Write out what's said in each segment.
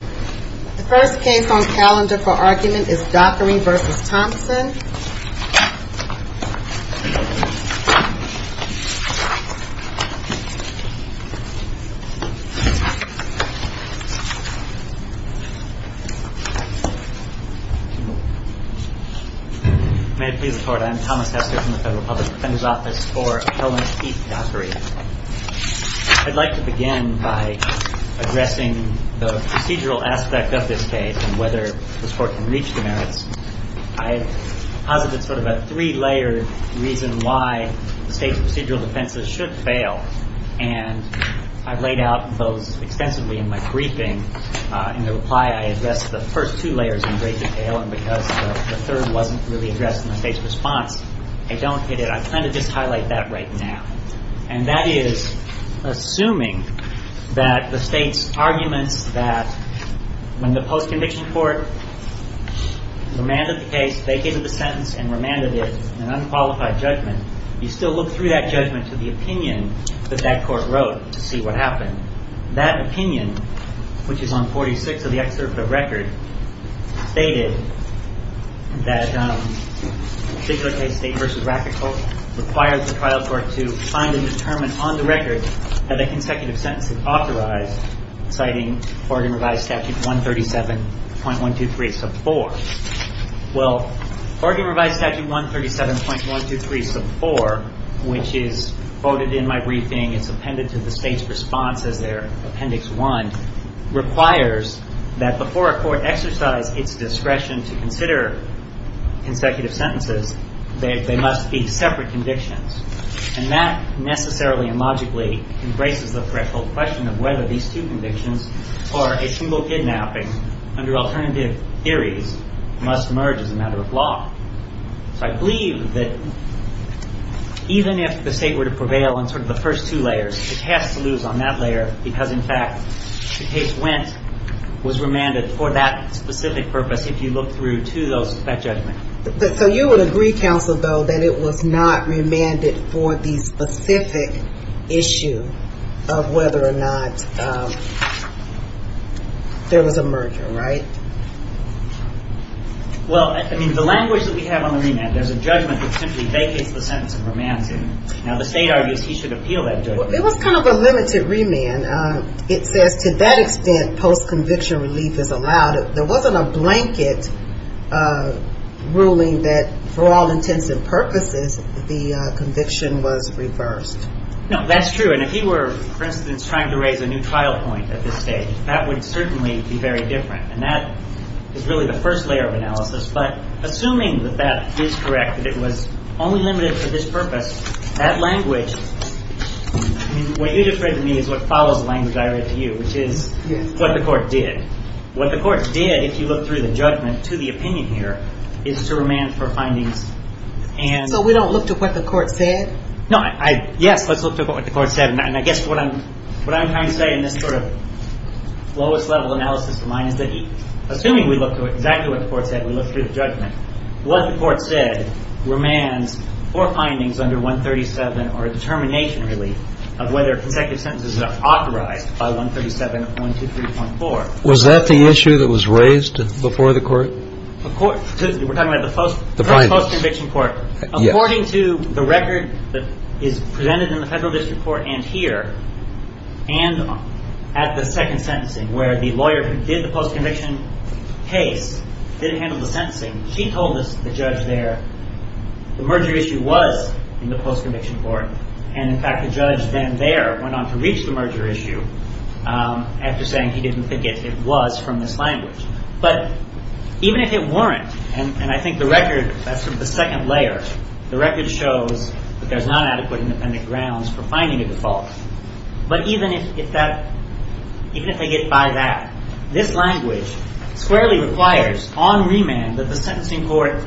The first case on calendar for argument is Dockery v. Thompson. May it please the Court, I am Thomas Hester from the Federal Public Defender's Office for Helen Heath Dockery. I'd like to begin by addressing the procedural aspect of this case and whether this Court can reach the merits. I have posited sort of a three-layered reason why the State's procedural defenses should fail, and I've laid out those extensively in my briefing. In the reply, I addressed the first two layers in great detail, and because the third wasn't really addressed in the State's response, I don't hit it. I plan to just highlight that right now. And that is, assuming that the State's arguments that when the post-conviction Court remanded the case, they gave it a sentence and remanded it an unqualified judgment, you still look through that judgment to the opinion that that Court wrote to see what happened. That opinion, which is on 46 of the excerpt of the record, stated that a particular case, State v. Rafferty, requires the trial court to find and determine on the record that a consecutive sentence is authorized, citing Oregon Revised Statute 137.123 sub 4. Well, Oregon Revised Statute 137.123 sub 4, which is quoted in my briefing, it's appended to the State's response as their appendix 1, requires that before a court exercise its discretion to consider consecutive sentences, they must be separate convictions. And that necessarily and logically embraces the threshold question of whether these two convictions or a single kidnapping under alternative theories must merge as a matter of law. So I believe that even if the State were to prevail on sort of the first two layers, it has to lose on that layer because, in fact, the case went, was remanded for that specific purpose if you look through to that judgment. So you would agree, counsel, though, that it was not remanded for the specific issue of whether or not there was a merger, right? Well, I mean, the language that we have on the remand, there's a judgment that simply vacates the sentence of romancing. Now, the State argues he should appeal that judgment. It was kind of a limited remand. It says to that extent post-conviction relief is allowed. There wasn't a blanket ruling that for all intents and purposes the conviction was reversed. No, that's true. And if he were, for instance, trying to raise a new trial point at this stage, that would certainly be very different, and that is really the first layer of analysis. But assuming that that is correct, that it was only limited for this purpose, that language, what you just read to me is what follows the language I read to you, which is what the court did. What the court did, if you look through the judgment to the opinion here, is to remand for findings. So we don't look to what the court said? No. Yes, let's look to what the court said. And I guess what I'm trying to say in this sort of lowest-level analysis of mine is that, assuming we look to exactly what the court said, we look through the judgment, what the court said remands for findings under 137 or a determination, really, of whether consecutive sentences are authorized by 137.123.4. Was that the issue that was raised before the court? We're talking about the post-conviction court. According to the record that is presented in the federal district court and here, and at the second sentencing where the lawyer who did the post-conviction case didn't handle the sentencing, she told the judge there the merger issue was in the post-conviction court, and, in fact, the judge then there went on to reach the merger issue after saying he didn't think it was from this language. But even if it weren't, and I think the record, that's the second layer, the record shows that there's not adequate independent grounds for finding a default. But even if they get by that, this language squarely requires, on remand, that the sentencing court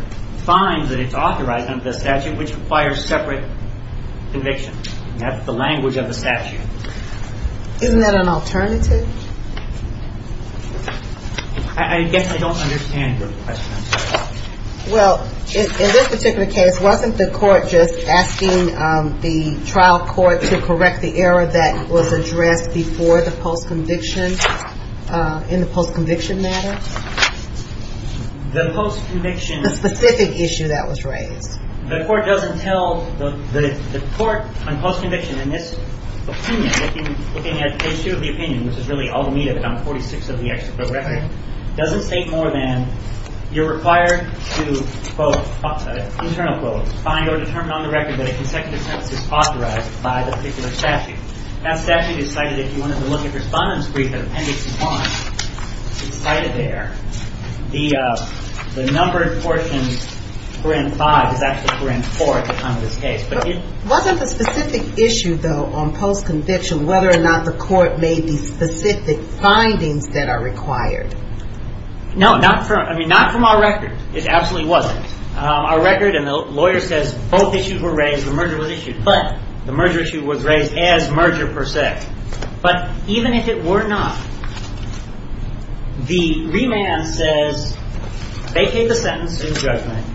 finds that it's authorized under the statute, which requires separate convictions. That's the language of the statute. Isn't that an alternative? I guess I don't understand your question. Well, in this particular case, wasn't the court just asking the trial court to correct the error that was addressed before the post-conviction, in the post-conviction matter? The post-conviction. The specific issue that was raised. The court doesn't tell the court on post-conviction, in this opinion, looking at issue of the opinion, which is really all the meat of it on 46 of the extra progressive, doesn't state more than you're required to, quote, internal quote, find or determine on the record that a consecutive sentence is authorized by the particular statute. That statute is cited, if you wanted to look at Respondent's Brief of Appendix 1, it's cited there. The numbered portion, parent 5, is actually parent 4 at the time of this case. Wasn't the specific issue, though, on post-conviction, whether or not the court made the specific findings that are required? No, not from our record. It absolutely wasn't. Our record and the lawyer says both issues were raised, the merger was issued. But the merger issue was raised as merger, per se. But even if it were not, the remand says vacate the sentence in judgment,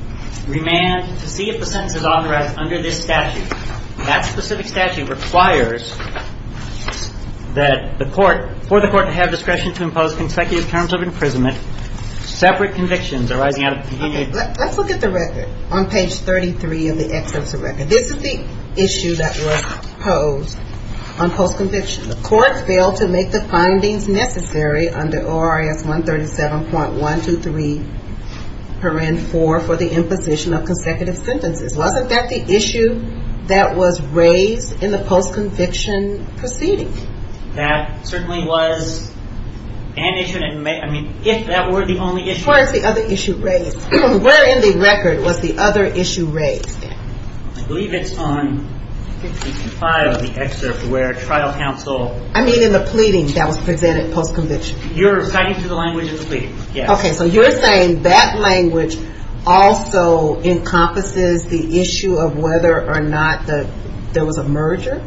remand to see if the sentence is authorized under this statute. That specific statute requires that the court, for the court to have discretion to impose consecutive terms of imprisonment, separate convictions arising out of the opinion. Let's look at the record on page 33 of the extensive record. This is the issue that was posed on post-conviction. The court failed to make the findings necessary under ORS 137.123, parent 4, for the imposition of consecutive sentences. Wasn't that the issue that was raised in the post-conviction proceeding? That certainly was an issue. I mean, if that were the only issue. Where is the other issue raised? Where in the record was the other issue raised? I believe it's on page 55 of the excerpt where trial counsel... I mean in the pleading that was presented post-conviction. You're citing through the language of the pleading, yes. Okay, so you're saying that language also encompasses the issue of whether or not there was a merger?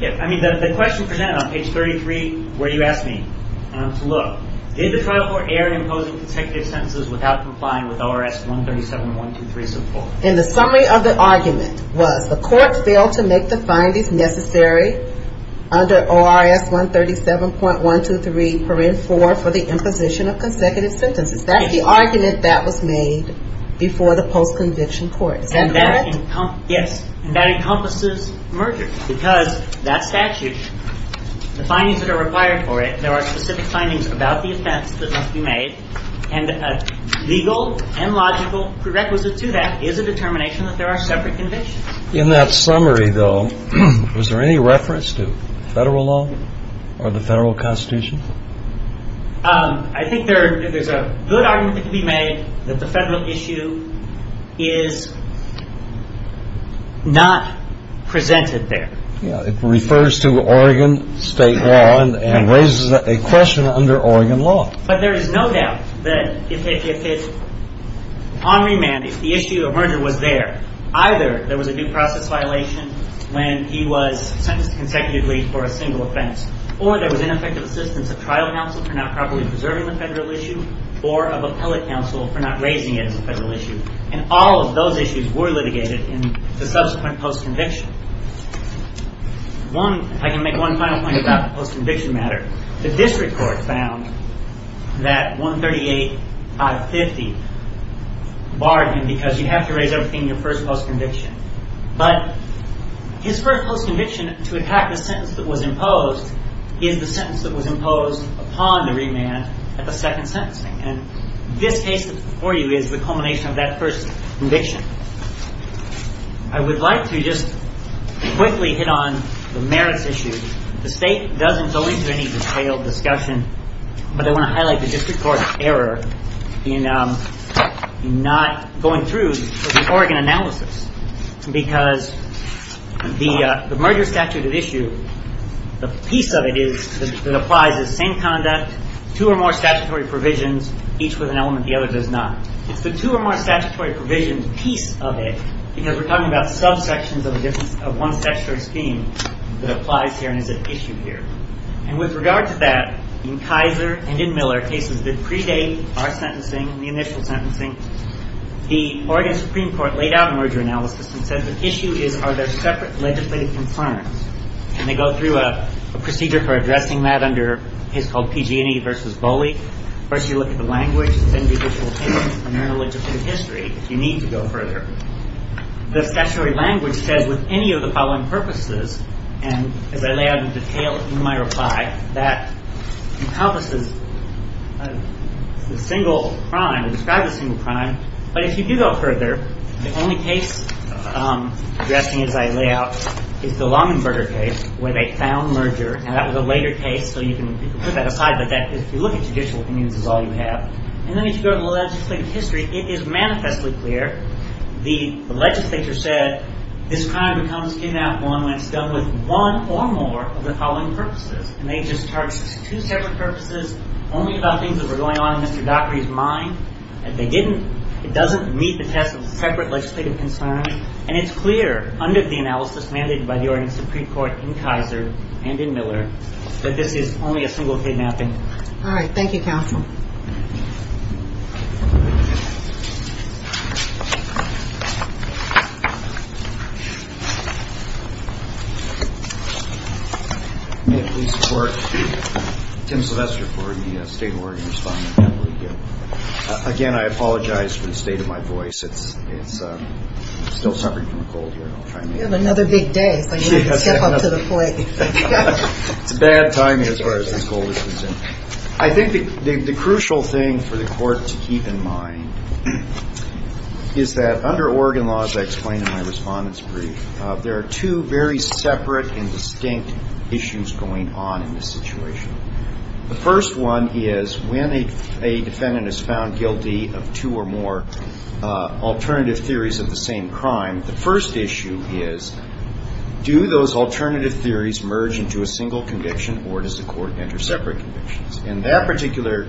Yeah, I mean the question presented on page 33 where you asked me to look. Did the trial court err in imposing consecutive sentences without complying with ORS 137.123? In the summary of the argument was the court failed to make the findings necessary under ORS 137.123, parent 4, for the imposition of consecutive sentences. That's the argument that was made before the post-conviction court. Is that correct? Yes. And that encompasses merger because that statute, the findings that are required for it, there are specific findings about the offense that must be made, and a legal and logical prerequisite to that is a determination that there are separate convictions. In that summary, though, was there any reference to Federal law or the Federal Constitution? I think there's a good argument that can be made that the Federal issue is not presented there. It refers to Oregon State law and raises a question under Oregon law. But there is no doubt that if it's on remand, if the issue of merger was there, either there was a due process violation when he was sentenced consecutively for a single offense, or there was ineffective assistance of trial counsel for not properly preserving the Federal issue, or of appellate counsel for not raising it as a Federal issue, and all of those issues were litigated in the subsequent post-conviction. If I can make one final point about the post-conviction matter, the district court found that 138.550 barred him because you have to raise everything in your first post-conviction. But his first post-conviction to attack the sentence that was imposed is the sentence that was imposed upon the remand at the second sentencing. And this case before you is the culmination of that first conviction. I would like to just quickly hit on the merits issue. The State doesn't go into any detailed discussion, but I want to highlight the district court error in not going through the Oregon analysis because the merger statute issue, the piece of it is that it applies the same conduct, two or more statutory provisions, each with an element, the other does not. It's the two or more statutory provisions piece of it, because we're talking about subsections of one statutory scheme that applies here and is at issue here. And with regard to that, in Kaiser and in Miller cases that predate our sentencing, the initial sentencing, the Oregon Supreme Court laid out a merger analysis and said the issue is are there separate legislative concerns. And they go through a procedure for addressing that under a case called PG&E versus Bolli. First you look at the language of the individual case and their legislative history, if you need to go further. The statutory language says with any of the following purposes, and as I lay out in detail in my reply, that encompasses a single crime, it describes a single crime, but if you do go further, the only case addressing as I lay out is the Langenberger case where they found merger, and that was a later case, so you can put that aside, but if you look at judicial opinions, that's all you have. And then as you go to the legislative history, it is manifestly clear. The legislature said this crime becomes K-1 when it's done with one or more of the following purposes. And they just charged two separate purposes only about things that were going on in Mr. Dockery's mind. If they didn't, it doesn't meet the test of separate legislative concerns, and it's clear under the analysis mandated by the Oregon Supreme Court in Kaiser and in Miller that this is only a single kidnapping. All right. Thank you, Counsel. May it please the Court. Tim Sylvester for the State of Oregon Respondent. Again, I apologize for the state of my voice. It's still suffering from a cold here. You have another big day, so you need to step up to the plate. It's a bad time as far as this cold is concerned. I think the crucial thing for the Court to keep in mind is that under Oregon laws, I explained in my Respondent's Brief, there are two very separate and distinct issues going on in this situation. The first one is when a defendant is found guilty of two or more alternative theories of the same crime, the first issue is do those alternative theories merge into a single conviction or does the Court enter separate convictions? And that particular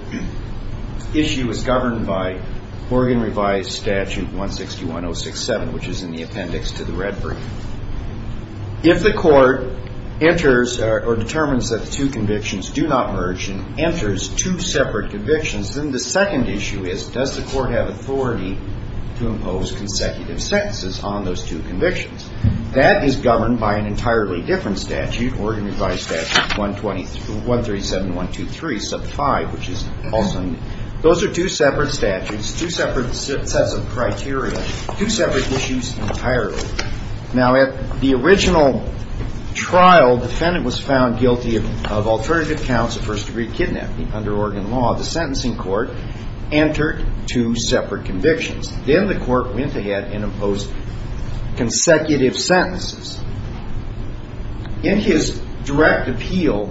issue is governed by Oregon Revised Statute 161.067, which is in the appendix to the Red Brief. If the Court enters or determines that the two convictions do not merge and enters two separate convictions, then the second issue is does the Court have authority to impose consecutive sentences on those two convictions? That is governed by an entirely different statute, Oregon Revised Statute 137.123, sub 5, which is also in there. Those are two separate statutes, two separate sets of criteria, two separate issues entirely. Now, at the original trial, defendant was found guilty of alternative counts of first-degree kidnapping. Under Oregon law, the sentencing court entered two separate convictions. Then the Court went ahead and imposed consecutive sentences. In his direct appeal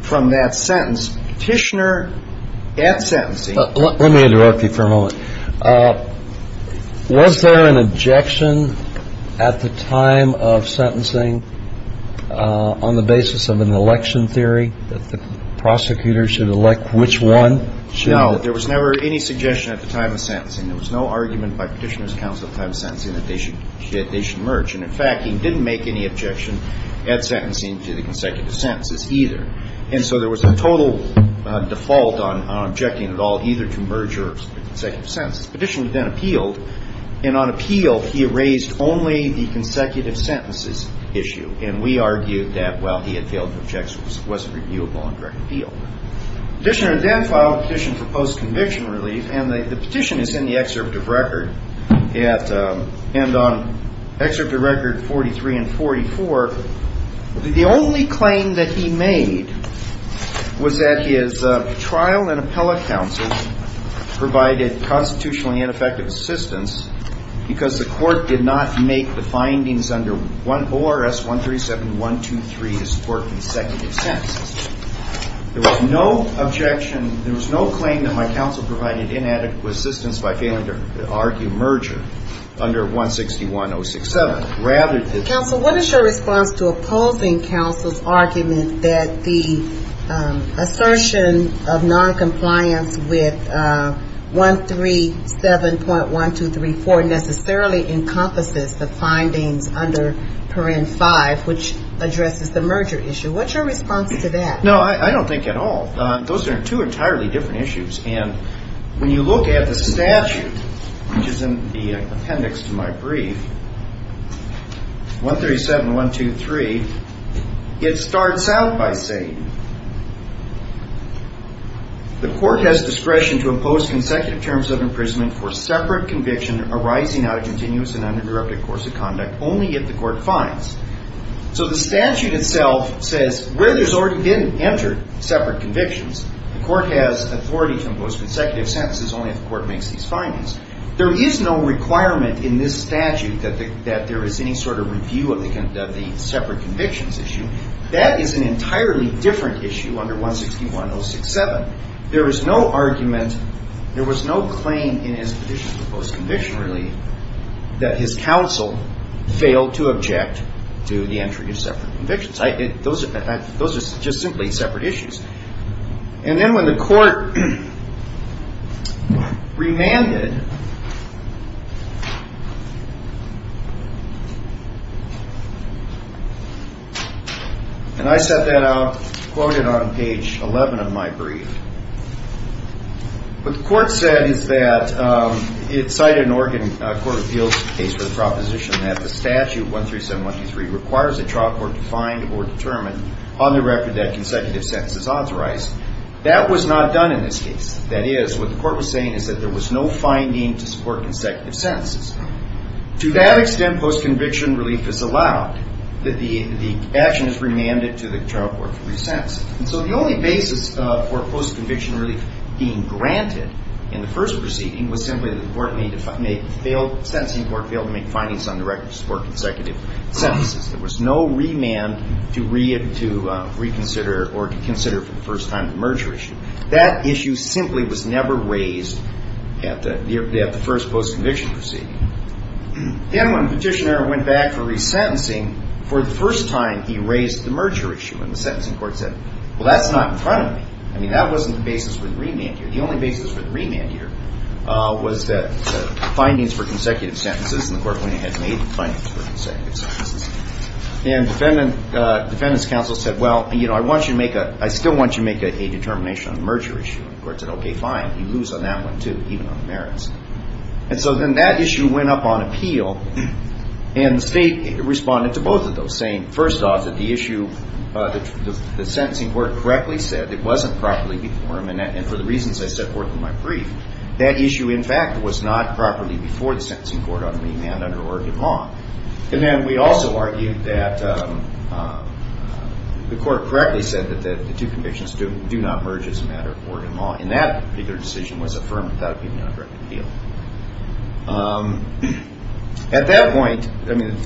from that sentence, Petitioner, at sentencing — Let me interrupt you for a moment. Was there an objection at the time of sentencing on the basis of an election theory that the prosecutor should elect which one? No. There was never any suggestion at the time of sentencing. There was no argument by Petitioner's counsel at the time of sentencing that they should merge. And, in fact, he didn't make any objection at sentencing to the consecutive sentences either. And so there was a total default on objecting at all, either to merger or consecutive sentences. Petitioner then appealed. And on appeal, he raised only the consecutive sentences issue. And we argued that, well, he had failed to object, so it wasn't reviewable on direct appeal. Petitioner then filed a petition for post-conviction relief. And the petition is in the excerpt of record. And on excerpt of record 43 and 44, the only claim that he made was that his trial and appellate counsel provided constitutionally ineffective assistance because the court did not make the findings under ORS 137.123 to support consecutive sentences. There was no objection. There was no claim that my counsel provided inadequate assistance by failing to argue merger under 161.067. Counsel, what is your response to opposing counsel's argument that the assertion of noncompliance with 137.1234 necessarily encompasses the findings under Parent 5, which addresses the merger issue? What's your response to that? No, I don't think at all. Those are two entirely different issues. And when you look at the statute, which is in the appendix to my brief, 137.123, it starts out by saying, The court has discretion to impose consecutive terms of imprisonment for separate conviction arising out of continuous and uninterrupted course of conduct only if the court finds. So the statute itself says where there's already been entered separate convictions, the court has authority to impose consecutive sentences only if the court makes these findings. There is no requirement in this statute that there is any sort of review of the separate convictions issue. That is an entirely different issue under 161.067. There was no argument, there was no claim in his petition for post-conviction relief that his counsel failed to object to the entry of separate convictions. Those are just simply separate issues. And then when the court remanded, and I set that out, quoted on page 11 of my brief. What the court said is that it cited an Oregon Court of Appeals case for the proposition that the statute 137.123 requires a trial court to find or determine on the record that consecutive sentences are authorized. That was not done in this case. That is, what the court was saying is that there was no finding to support consecutive sentences. To that extent, post-conviction relief is allowed, that the action is remanded to the trial court to re-sense it. And so the only basis for post-conviction relief being granted in the first proceeding was simply that the court failed to make findings on the record to support consecutive sentences. There was no remand to reconsider or to consider for the first time the merger issue. That issue simply was never raised at the first post-conviction proceeding. Then when the petitioner went back for resentencing, for the first time he raised the merger issue, and the sentencing court said, well, that's not in front of me. I mean, that wasn't the basis for the remand here. The only basis for the remand here was that findings for consecutive sentences, and the court went ahead and made the findings for consecutive sentences. And defendant's counsel said, well, I still want you to make a determination on the merger issue. And the court said, okay, fine. You lose on that one, too, even on the merits. And so then that issue went up on appeal, and the state responded to both of those, saying, first off, that the issue, the sentencing court correctly said it wasn't properly informed, and for the reasons I set forth in my brief, that issue, in fact, was not properly before the sentencing court on the remand under Oregon law. And then we also argued that the court correctly said that the two convictions do not merge as a matter of Oregon law, and that particular decision was affirmed without being on direct appeal. At that point, I mean,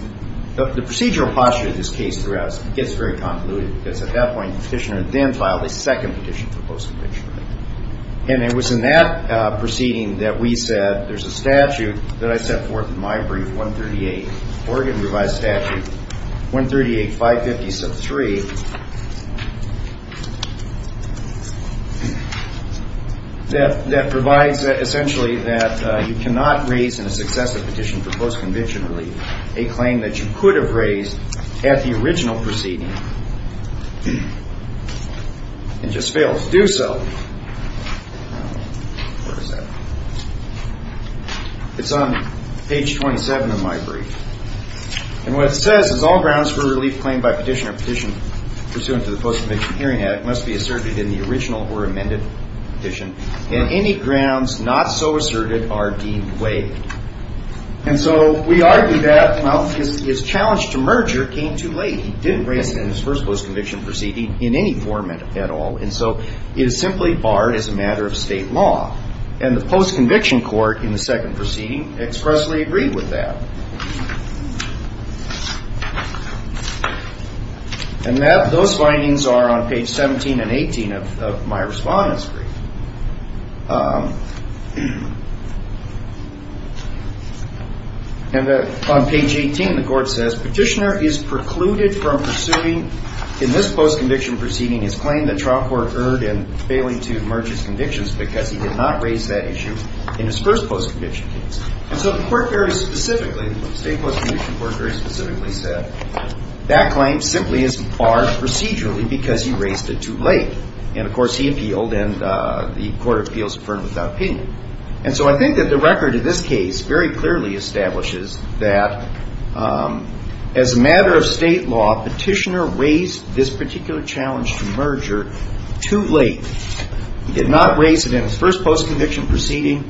the procedural posture of this case throughout gets very convoluted, because at that point the petitioner then filed a second petition for post-conviction relief. And it was in that proceeding that we said there's a statute that I set forth in my brief, 138, Oregon revised statute 138.550.3, that provides essentially that you cannot raise in a successive petition for post-conviction relief a claim that you could have raised at the original proceeding and just failed to do so. Where is that? It's on page 27 of my brief. And what it says is all grounds for relief claimed by petitioner or petitioner pursuant to the Post-Conviction Hearing Act must be asserted in the original or amended petition, and any grounds not so asserted are deemed waived. And so we argue that, well, his challenge to merger came too late. He didn't raise it in his first post-conviction proceeding in any format at all, and so it is simply barred as a matter of state law. And the post-conviction court in the second proceeding expressly agreed with that. And those findings are on page 17 and 18 of my respondent's brief. And on page 18, the court says, petitioner is precluded from pursuing in this post-conviction proceeding his claim that trial court erred in failing to merge his convictions because he did not raise that issue in his first post-conviction case. And so the court very specifically, the state post-conviction court very specifically said, that claim simply is barred procedurally because he raised it too late. And, of course, he appealed, and the court of appeals confirmed without opinion. And so I think that the record in this case very clearly establishes that as a matter of state law, petitioner raised this particular challenge to merger too late. He did not raise it in his first post-conviction proceeding.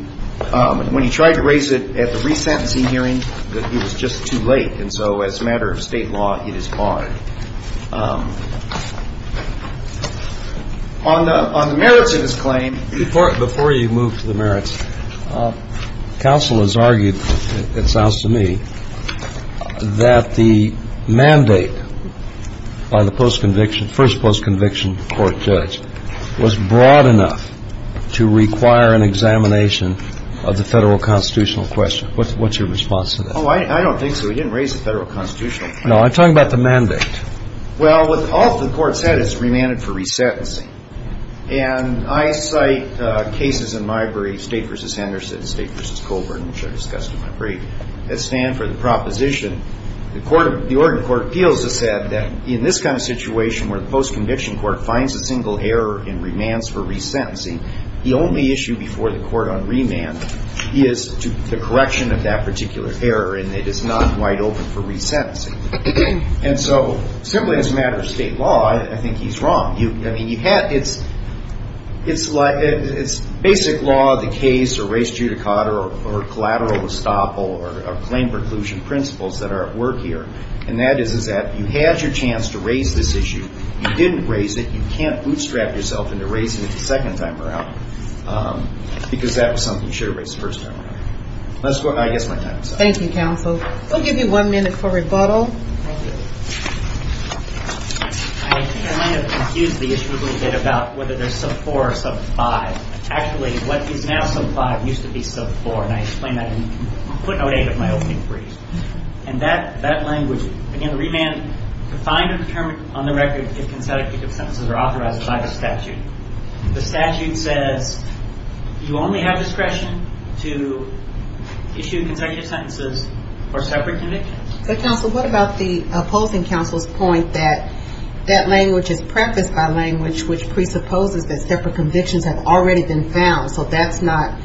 When he tried to raise it at the resentencing hearing, it was just too late. And so as a matter of state law, it is barred. On the merits of his claim. Before you move to the merits, counsel has argued, it sounds to me, that the mandate by the post-conviction, first post-conviction court judge was broad enough to require an examination of the federal constitutional question. What's your response to that? Oh, I don't think so. He didn't raise the federal constitutional question. No, I'm talking about the mandate. Well, what all the court said is remanded for resentencing. And I cite cases in my brief, State v. Anderson, State v. Colburn, which I discussed in my brief, that stand for the proposition. The Oregon Court of Appeals has said that in this kind of situation where the post-conviction court finds a single error in remands for resentencing, the only issue before the court on remand is the correction of that particular error, and it is not wide open for resentencing. And so simply as a matter of state law, I think he's wrong. I mean, it's basic law of the case or res judicata or collateral estoppel or claim preclusion principles that are at work here, and that is that you had your chance to raise this issue. You didn't raise it. You can't bootstrap yourself into raising it the second time around because that was something you should have raised the first time around. I guess my time is up. Thank you, counsel. We'll give you one minute for rebuttal. I think I might have confused the issue a little bit about whether there's sub-4 or sub-5. Actually, what is now sub-5 used to be sub-4, and I explained that in footnote 8 of my opening brief. And that language, again, the remand, to find or determine on the record if consecutive sentences are authorized by the statute. The statute says you only have discretion to issue consecutive sentences for separate convictions. But, counsel, what about the opposing counsel's point that that language is prefaced by language which presupposes that separate convictions have already been found, so that's not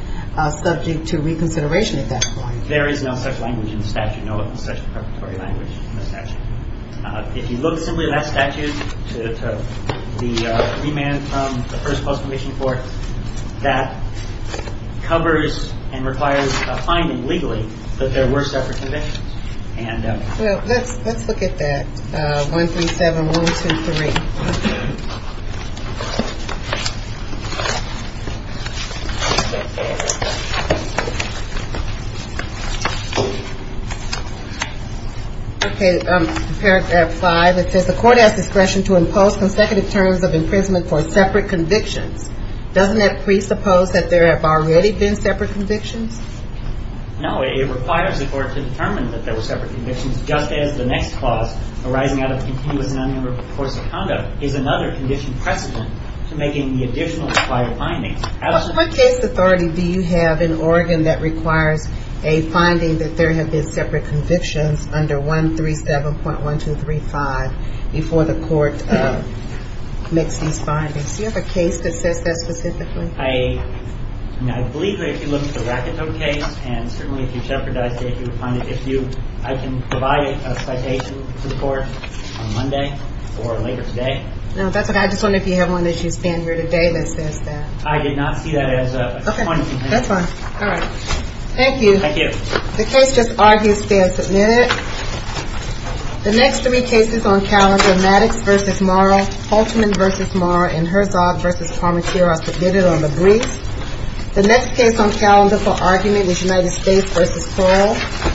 subject to reconsideration at that point? There is no such language in the statute, no such preparatory language in the statute. If you look simply at that statute, the remand from the first post-conviction court, that covers and requires a finding legally that there were separate convictions. Well, let's look at that, 137123. Okay. Paragraph 5, it says the court has discretion to impose consecutive terms of imprisonment for separate convictions. Doesn't that presuppose that there have already been separate convictions? No, it requires the court to determine that there were separate convictions, just as the next clause arising out of the is another condition precedent to make any additional required findings. But what case authority do you have in Oregon that requires a finding that there have been separate convictions under 137.1235 before the court makes these findings? Do you have a case that says that specifically? I believe that if you look at the Rakito case, and certainly if you shepherdized it, you would find it. I can provide a citation to the court on Monday or later today. No, that's okay. I just wondered if you have one that you stand here today that says that. I did not see that as a point of complaint. Thank you. The next three cases on calendar, Maddox v. Morrow, Holtzman v. Morrow, and Herzog v. Parmentier are submitted on the brief. The next case on calendar for argument is United States v. Pearl. Thank you.